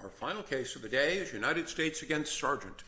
Our final case of the day is United States v. Sargent.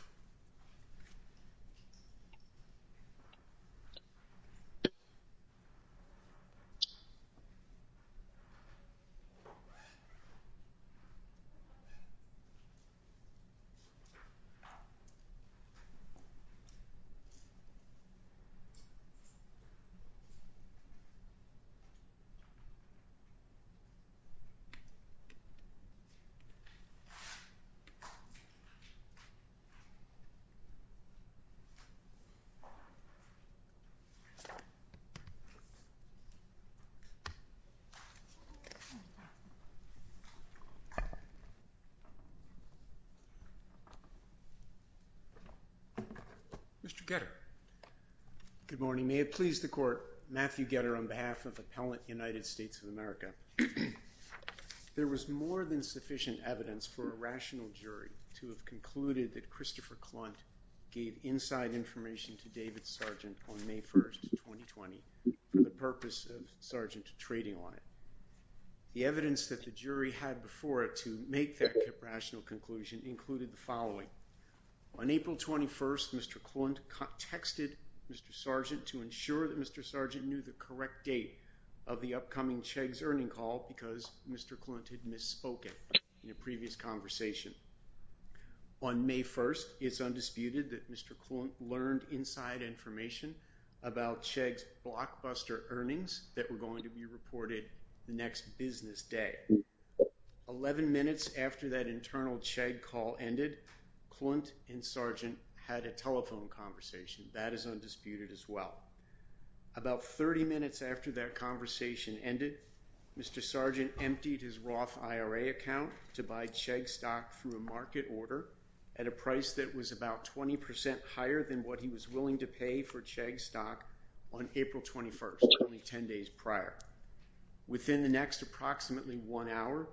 Mr. Getter Good morning, may it please the court, Matthew of America, there was more than sufficient evidence for a rational jury to have concluded that Christopher Clont gave inside information to David Sargent on May 1st, 2020, for the purpose of Sargent trading on the evidence that the jury had before it to make that rational conclusion included the following on April 21st, Mr. Clont texted Mr Sargent to ensure that Mr. Sargent knew the correct date of the upcoming Chegg's earning call because Mr. Clont had misspoken in a previous conversation. On May 1st, it's undisputed that Mr. Clont learned inside information about Chegg's blockbuster earnings that were going to be reported the next business day. Eleven minutes after that internal Chegg call ended, Clont and Sargent a telephone conversation. That is undisputed as well. About 30 minutes after that conversation ended, Mr. Sargent emptied his Roth IRA account to buy Chegg stock through a market order at a price that was about 20% higher than what he was willing to pay for Chegg stock on April 21st, only 10 days prior. Within the next approximately one hour,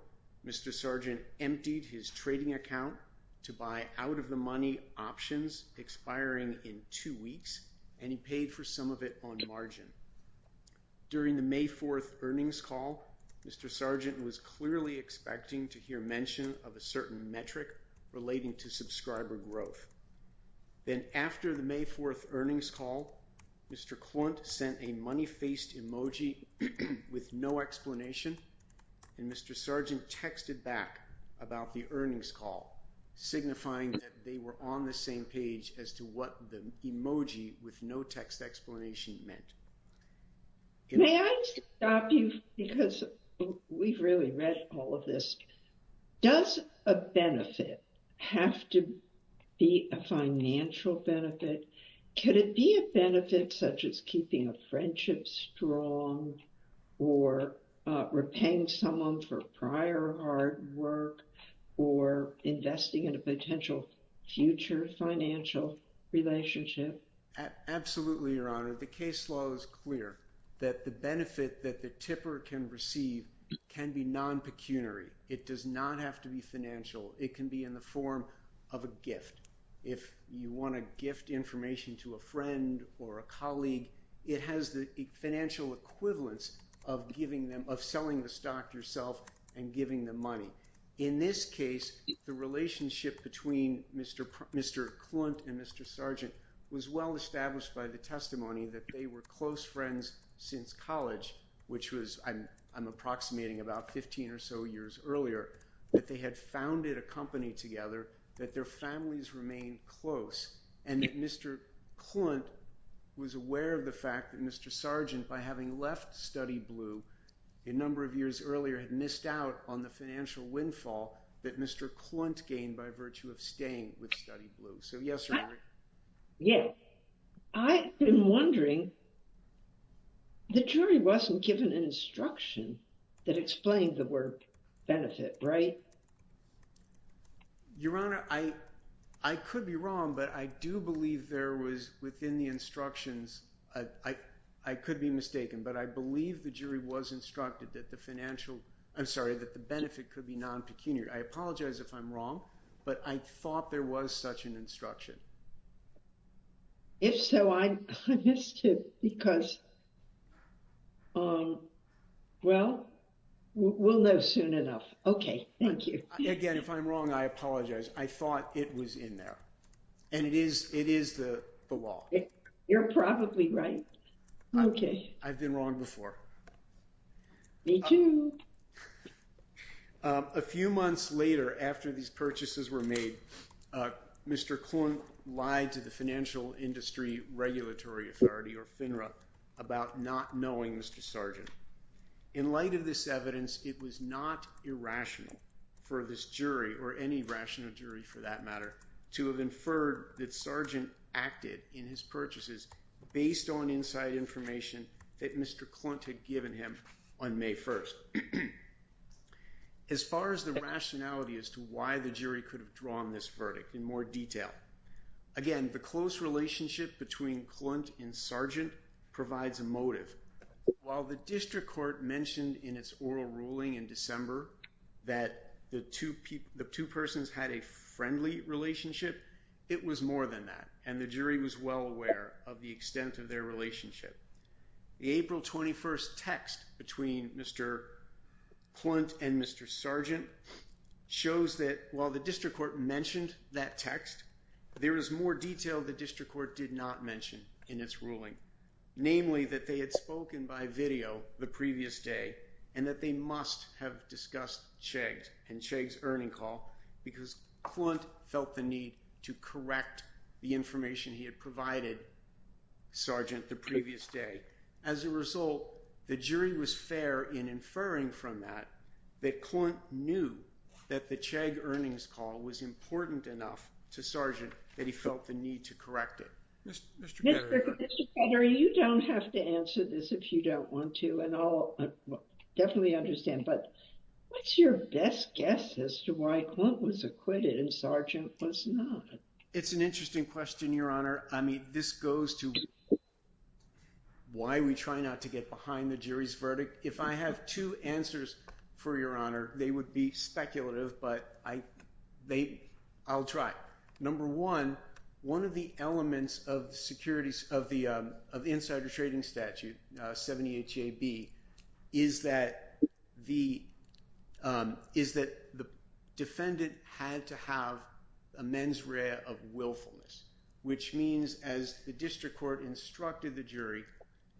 Mr. Sargent emptied his trading account to buy out-of-the-money options expiring in two weeks, and he paid for some of it on margin. During the May 4th earnings call, Mr. Sargent was clearly expecting to hear mention of a certain metric relating to subscriber growth. Then after the May 4th earnings call, Mr. Clont sent a money-faced emoji with no explanation, and Mr. Sargent texted back about the earnings call, signifying that they were on the same page as to what the emoji with no text explanation meant. May I stop you because we've really read all of this. Does a benefit have to be a financial benefit? Could it be a benefit such as keeping a friendship strong or repaying someone for prior hard work or investing in a potential future financial relationship? Absolutely, Your Honor. The case law is clear that the benefit that the tipper can receive can be non-pecuniary. It does not have to be financial. It can be in the form of a gift. If you want to gift information to a friend or a colleague, it has the financial equivalence of selling the stock yourself and giving them money. In this case, the relationship between Mr. Clont and Mr. Sargent was well established by the testimony that they were close friends since college, which I'm approximating about 15 or so years earlier, that they had founded a company together, that their families remained close, and that Mr. Clont was aware of the study blue. A number of years earlier had missed out on the financial windfall that Mr. Clont gained by virtue of staying with study blue. So yes or no? Yes. I've been wondering, the jury wasn't given an instruction that explained the word benefit, right? Your Honor, I could be wrong, but I do believe there was within the instructions, I could be mistaken, but I believe the jury was instructed that the financial, I'm sorry, that the benefit could be non-pecuniary. I apologize if I'm wrong, but I thought there was such an instruction. If so, I'm confused because, well, we'll know soon enough. Okay. Thank you. Again, if I'm wrong, I apologize. I thought it was in there. And it is the law. You're probably right. I've been wrong before. Me too. A few months later, after these purchases were made, Mr. Clont lied to the Financial Industry Regulatory Authority, or FINRA, about not knowing Mr. Sargent. In light of this evidence, it was not irrational for this jury, or any rational jury for that matter, to have deferred that Sargent acted in his purchases based on inside information that Mr. Clont had given him on May 1st. As far as the rationality as to why the jury could have drawn this verdict in more detail, again, the close relationship between Clont and Sargent provides a motive. While the District Court mentioned in its oral ruling in December that the two persons had a friendly relationship, it was more than that, and the jury was well aware of the extent of their relationship. The April 21st text between Mr. Clont and Mr. Sargent shows that while the District Court mentioned that text, there was more detail the District Court did not mention in its ruling, namely that they had spoken by video the previous day, and that they must have discussed Chegg's, and Chegg's earning call, because Clont felt the need to correct the information he had provided Sargent the previous day. As a result, the jury was fair in inferring from that that Clont knew that the Chegg earnings call was important enough to Sargent that he felt the need to correct it. Mr. Ketterer, you don't have to answer this if you don't want to, and I'll definitely understand, but what's your best guess as to why Clont was acquitted and Sargent was not? It's an interesting question, Your Honor. I mean, this goes to why we try not to get behind the jury's verdict. If I have two answers for Your Honor, they would be speculative, but I'll try. Number one, one of the elements of the Securities, of the insider trading statute, 78JB, is that the defendant had to have a mens rea of willfulness, which means as the District Court instructed the jury,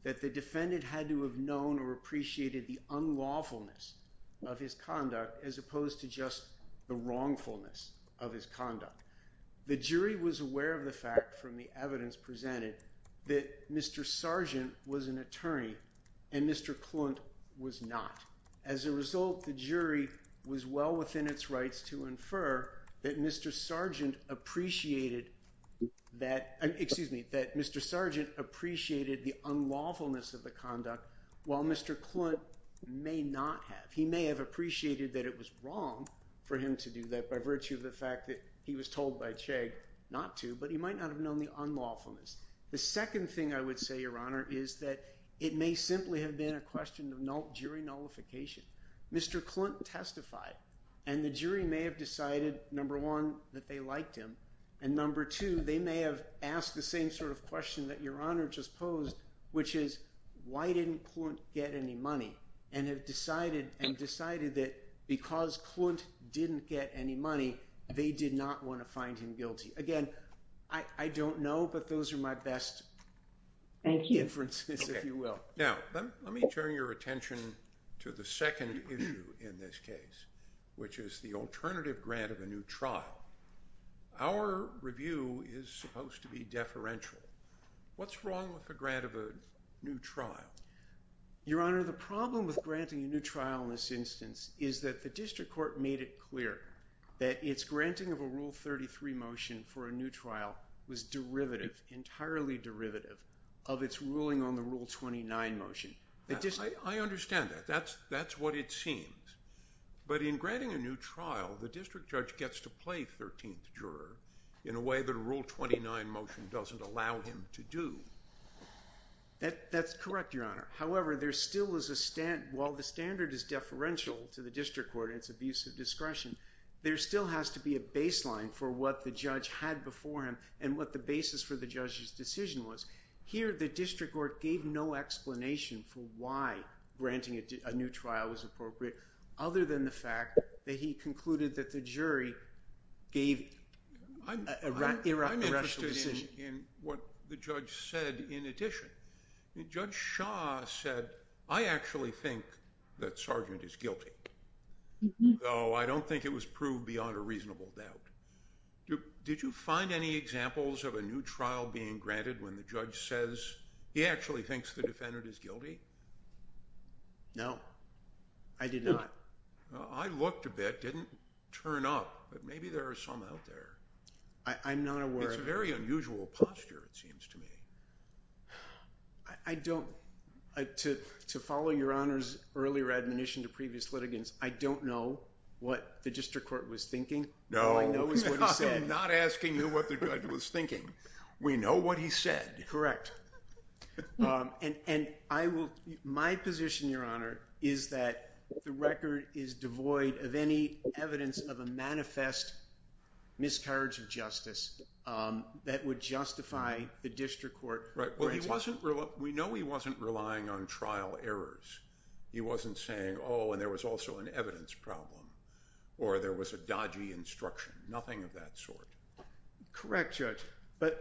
that the defendant had to have known or appreciated the unlawfulness of his conduct, as opposed to just the wrongfulness of his conduct. The jury was aware of the fact from the evidence presented that Mr. Sargent was an attorney and Mr. Clont was not. As a result, the jury was well within its rights to infer that Mr. Sargent appreciated that, excuse me, that Mr. Sargent appreciated the unlawfulness of the conduct, while Mr. Clont may not have. He may have appreciated that it was wrong for him to do that by virtue of the fact that he was told by Chegg not to, but he might not have known the unlawfulness. The second thing I would say, Your Honor, is that it may simply have been a question of jury nullification. Mr. Clont testified, and the jury may have decided, number one, that they liked him, and number two, they may have asked the same sort of question that Your Honor just posed, which is, why didn't Clont get any money, and have decided, and decided that because Clont didn't get any money, they did not want to find him guilty. Again, I don't know, but those are my best inferences, if you will. Now, let me turn your attention to the second issue in this case, which is the alternative grant of a new trial. Our review is supposed to be deferential. What's wrong with a grant of a new trial? Your Honor, the problem with granting a new trial in this instance is that the district court made it clear that its granting of a Rule 33 motion for a new trial was derivative, entirely derivative, of its ruling on the Rule 29 motion. I understand that. That's what it seems. But in granting a new trial, the district judge gets to play the 13th juror in a way that a Rule 29 motion doesn't allow him to do. That's correct, Your Honor. However, while the standard is deferential to the district court in its abuse of discretion, there still has to be a baseline for what the judge had before him, and what the basis for the judge's decision was. Here, the district court gave no explanation for why granting a new trial was appropriate, other than the fact that he concluded that the jury gave an irreproachable decision. I'm interested in what the judge said in addition. Judge Shah said, I actually think that Sargent is guilty, though I don't think it was proved beyond a reasonable doubt. Did you find any examples of a new trial being granted when the judge says he actually thinks the defendant is guilty? No, I did not. I looked a bit. It didn't turn up, but maybe there are some out there. I'm not aware. It's a very unusual posture, it seems to me. I don't, to follow Your Honor's earlier admonition to previous litigants, I don't know what the district court was thinking. No, I'm not asking you what the judge was thinking. We know what he said. Correct. My position, Your Honor, is that the record is devoid of any evidence of a manifest miscarriage of justice that would justify the district court granting it. Right. We know he wasn't relying on trial errors. He wasn't saying, oh, and there was also an evidence problem, or there was a dodgy instruction, nothing of that sort. Correct, Judge. But,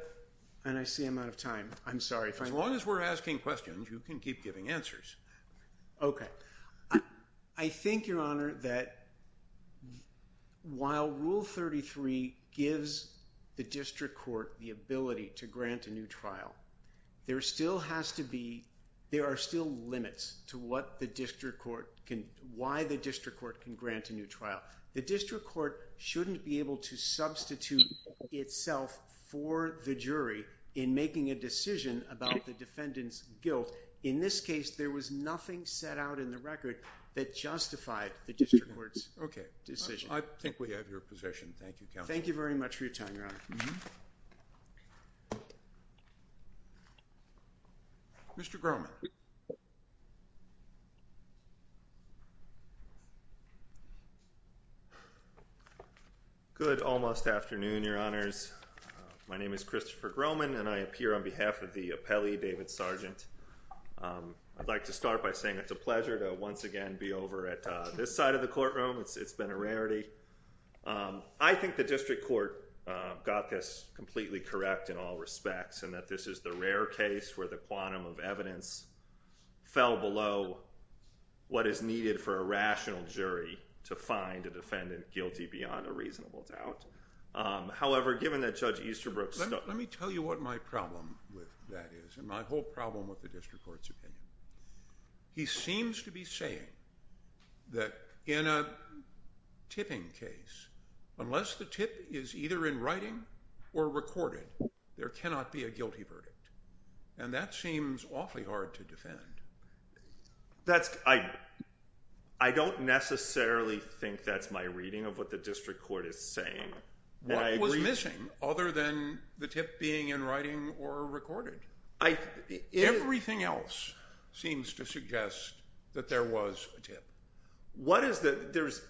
and I see I'm out of time. I'm sorry. As long as we're asking questions, you can keep giving answers. Okay. I think, Your Honor, that while Rule 33 gives the district court the ability to grant a new trial, there still has to be, there are still limits to what the district court can, why the district court can grant a new trial. The district court shouldn't be able to substitute itself for the jury in making a decision about the defendant's guilt. In this case, there was nothing set out in the record that justified the district court's decision. Okay. I think we have your position. Thank you, counsel. Thank you very much for your time, Your Honor. Mr. Grohman. Good almost afternoon, Your Honors. My name is Christopher Grohman, and I appear on behalf of the appellee, David Sargent. I'd like to start by saying it's a pleasure to once again be over at this side of the got this completely correct in all respects, and that this is the rare case where the quantum of evidence fell below what is needed for a rational jury to find a defendant guilty beyond a reasonable doubt. However, given that Judge Easterbrook... Let me tell you what my problem with that is, and my whole problem with the district court's opinion. He seems to be saying that in a tipping case, unless the tip is either in writing or recorded, there cannot be a guilty verdict. And that seems awfully hard to defend. That's... I don't necessarily think that's my reading of what the district court is saying. What was missing other than the tip being in writing or recorded? Everything else seems to suggest that there was a tip. What is the... There's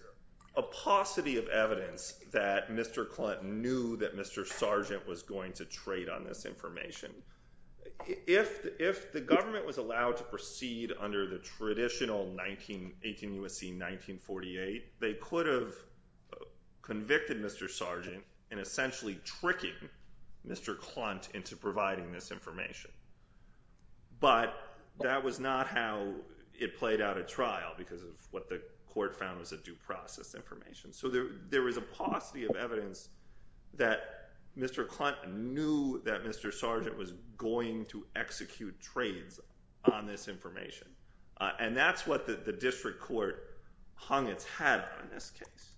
a paucity of evidence that Mr. Clunt knew that Mr. Sargent was going to trade on this information. If the government was allowed to proceed under the traditional 18 U.S.C. 1948, they could have convicted Mr. Sargent in essentially tricking Mr. Clunt into providing this information. But that was not how it played out at trial because of what the court found was a due process information. So there was a paucity of evidence that Mr. Clunt knew that Mr. Sargent was going to execute trades on this information. And that's what the district court hung its hat on in this case.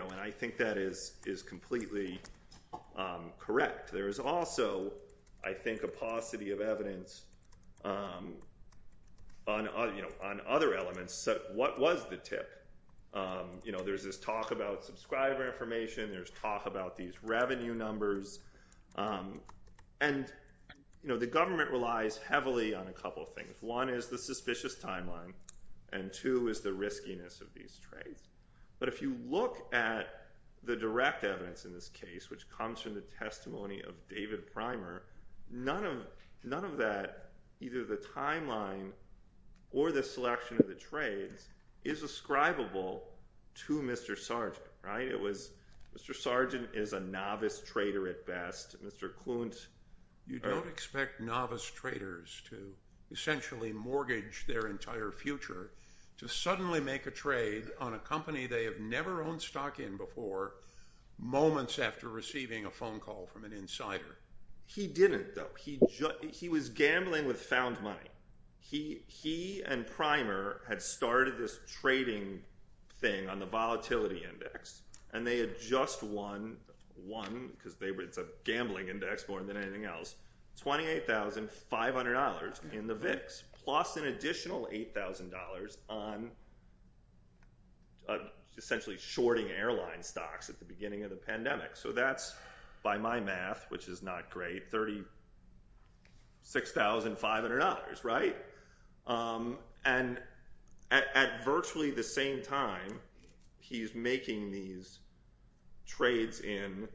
And I think that is completely correct. There is also, I think, a paucity of evidence on other elements. So what was the tip? There's this talk about subscriber information. There's talk about these revenue numbers. And the government relies heavily on a couple of things. One is the suspicious timeline. And two is the riskiness of these trades. But if you look at the direct evidence in this case, which comes from the testimony of David Clunt, none of that, either the timeline or the selection of the trades, is ascribable to Mr. Sargent. Mr. Sargent is a novice trader at best. Mr. Clunt... You don't expect novice traders to essentially mortgage their entire future to suddenly make a trade on a company they have never owned stock in before moments after receiving a phone call from an insider. He didn't, though. He was gambling with found money. He and Primer had started this trading thing on the volatility index. And they had just won, because it's a gambling index more than anything else, $28,500 in the VIX, plus an additional $8,000 on essentially shorting airline stocks at the beginning of the pandemic. So that's, by my math, which is not great, $36,500, right? And at virtually the same time, he's making these trades in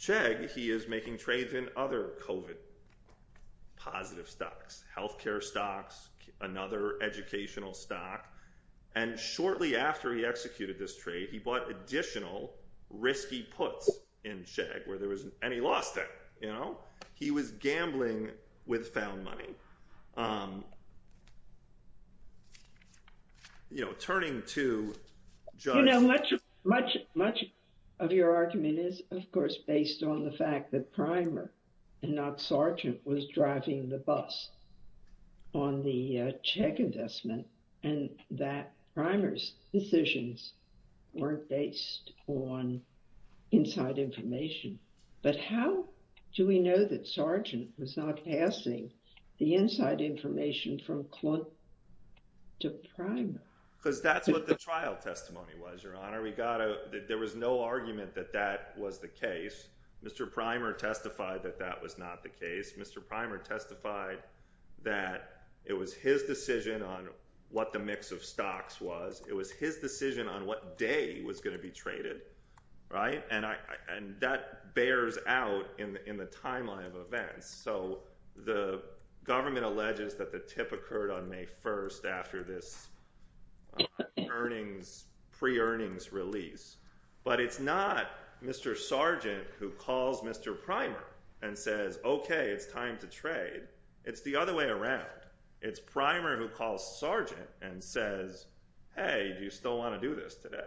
Chegg. He is making trades in other COVID positive stocks, health care stocks, another educational stock. And shortly after he executed this trade, he bought additional risky puts in Chegg, and he lost it. He was gambling with found money. You know, turning to... You know, much of your argument is, of course, based on the fact that Primer and not Sargent was driving the bus on the Chegg investment, and that Primer's decisions weren't based on inside information. But how do we know that Sargent was not passing the inside information from Klunt to Primer? Because that's what the trial testimony was, Your Honor. There was no argument that that was the case. Mr. Primer testified that that was not the case. Mr. Primer testified that it was his decision on what the mix of stocks was. It was his decision on what day was going to be traded, right? And that bears out in the timeline of events. So the government alleges that the tip occurred on May 1st after this earnings, pre-earnings release. But it's not Mr. Sargent who calls Mr. Primer and says, okay, it's time to trade. It's the other way around. It's Primer who calls Sargent and says, hey, do you still want to do this today?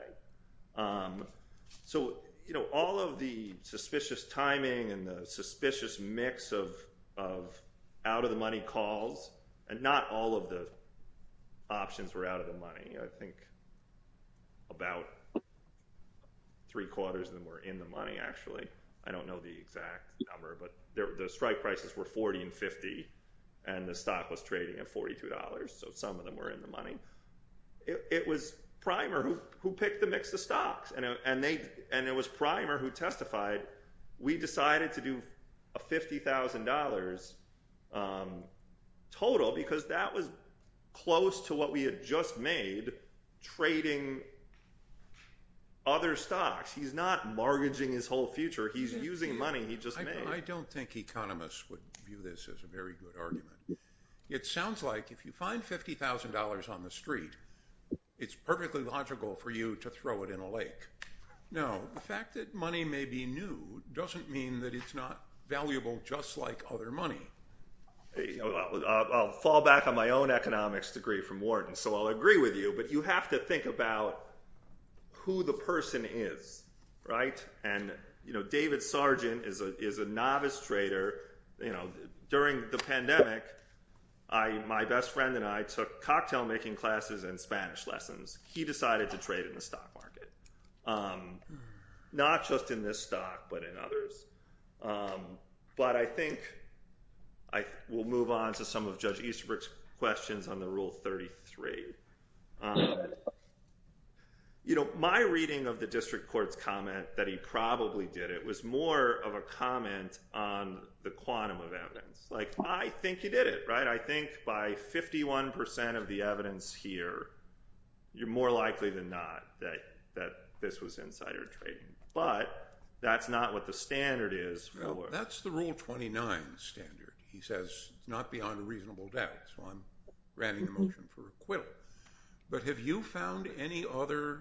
So, you know, all of the suspicious timing and the suspicious mix of out-of-the-money calls, and not all of the options were out of the money, I think, about three quarters of them were in the money, actually. I don't know the exact number, but the strike prices were $40 and $50, and the stock was trading at $42. So some of them were in the money. It was Primer who picked the mix of stocks. And it was Primer who testified, we decided to do a $50,000 total because that was close to what we had just made trading other stocks. He's not mortgaging his whole future. He's using money he just made. I don't think economists would view this as a very good argument. It sounds like if you find $50,000 on the street, it's perfectly logical for you to throw it in a lake. No, the fact that money may be new doesn't mean that it's not valuable just like other money. I'll fall back on my own economics degree from Wharton, so I'll agree with you, but you have to think about who the person is, right? And David Sargent is a novice trader. During the pandemic, my best friend and I took cocktail-making classes and Spanish lessons. He decided to trade in the stock market, not just in this stock but in others. But I think I will move on to some of Judge Easterbrook's questions on the Rule 33. You know, my reading of the district court's comment that he probably did it was more of a comment on the quantum of evidence. Like, I think he did it, right? I think by 51% of the evidence here, you're more likely than not that this was insider trading. But that's not what the standard is. Well, that's the Rule 29 standard. He says it's not beyond a reasonable doubt, so I'm granting the motion for acquittal. But have you found any other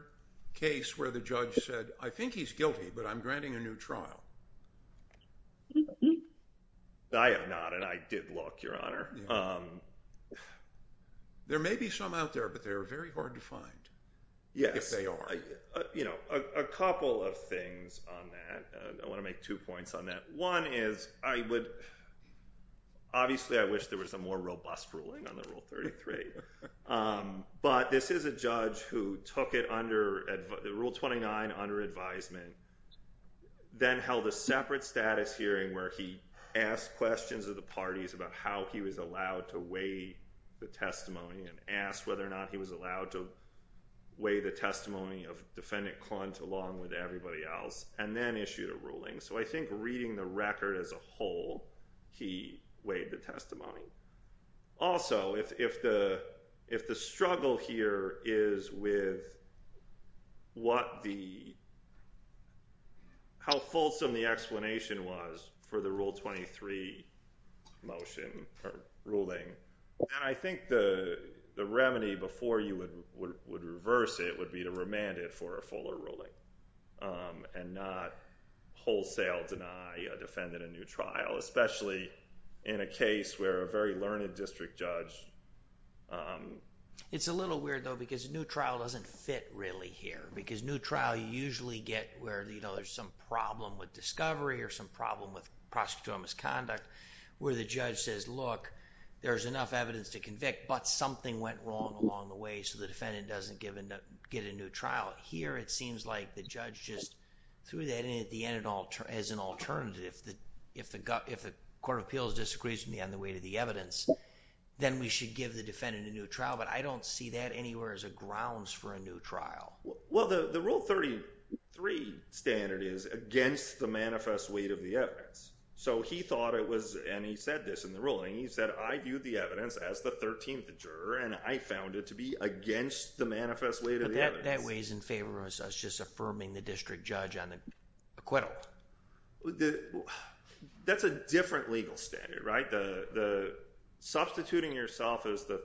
case where the judge said, I think he's guilty, but I'm granting a new trial? I have not, and I did look, Your Honor. There may be some out there, but they're very hard to find, if they are. Yes, you know, a couple of things on that. I want to make two points on that. One is, I would, obviously, I wish there was a more robust ruling on the Rule 33. But this is a judge who took it under, Rule 29, under advisement, then held a separate status hearing where he asked questions of the parties about how he was the testimony and asked whether or not he was allowed to weigh the testimony of Defendant Clunt along with everybody else, and then issued a ruling. So I think reading the record as a whole, he weighed the testimony. Also, if the struggle here is with how fulsome the explanation was for the Rule 23 motion, or ruling, and I think the remedy before you would reverse it would be to remand it for a fuller ruling and not wholesale deny a defendant a new trial, especially in a case where a very learned district judge... It's a little weird, though, because a new trial doesn't fit, really, here. Because new trial, you usually get where, you know, there's some problem with discovery or some problem with prosecutorial misconduct where the judge says, look, there's enough evidence to convict, but something went wrong along the way, so the defendant doesn't get a new trial. Here, it seems like the judge just threw that in at the end as an alternative. If the Court of Appeals disagrees with me on the weight of the evidence, then we should give the defendant a new trial. But I don't see that anywhere as a grounds for a new trial. Well, the Rule 33 standard is against the manifest weight of the evidence. So he thought it was, and he said this in the ruling, he said, I view the evidence as the 13th juror and I found it to be against the manifest weight of the evidence. But that weighs in favor of us just affirming the district judge on the acquittal. That's a different legal standard, right? The substituting yourself as the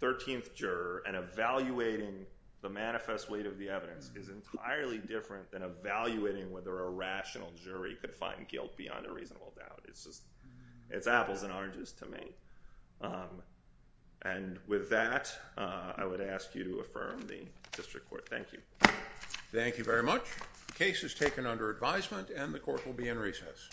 13th juror and evaluating the manifest weight of the evidence is entirely different than evaluating whether a rational jury could find guilt beyond a reasonable doubt. It's just, it's apples and oranges to me. And with that, I would ask you to affirm the district court. Thank you. Thank you very much. The case is taken under advisement and the court will be in recess.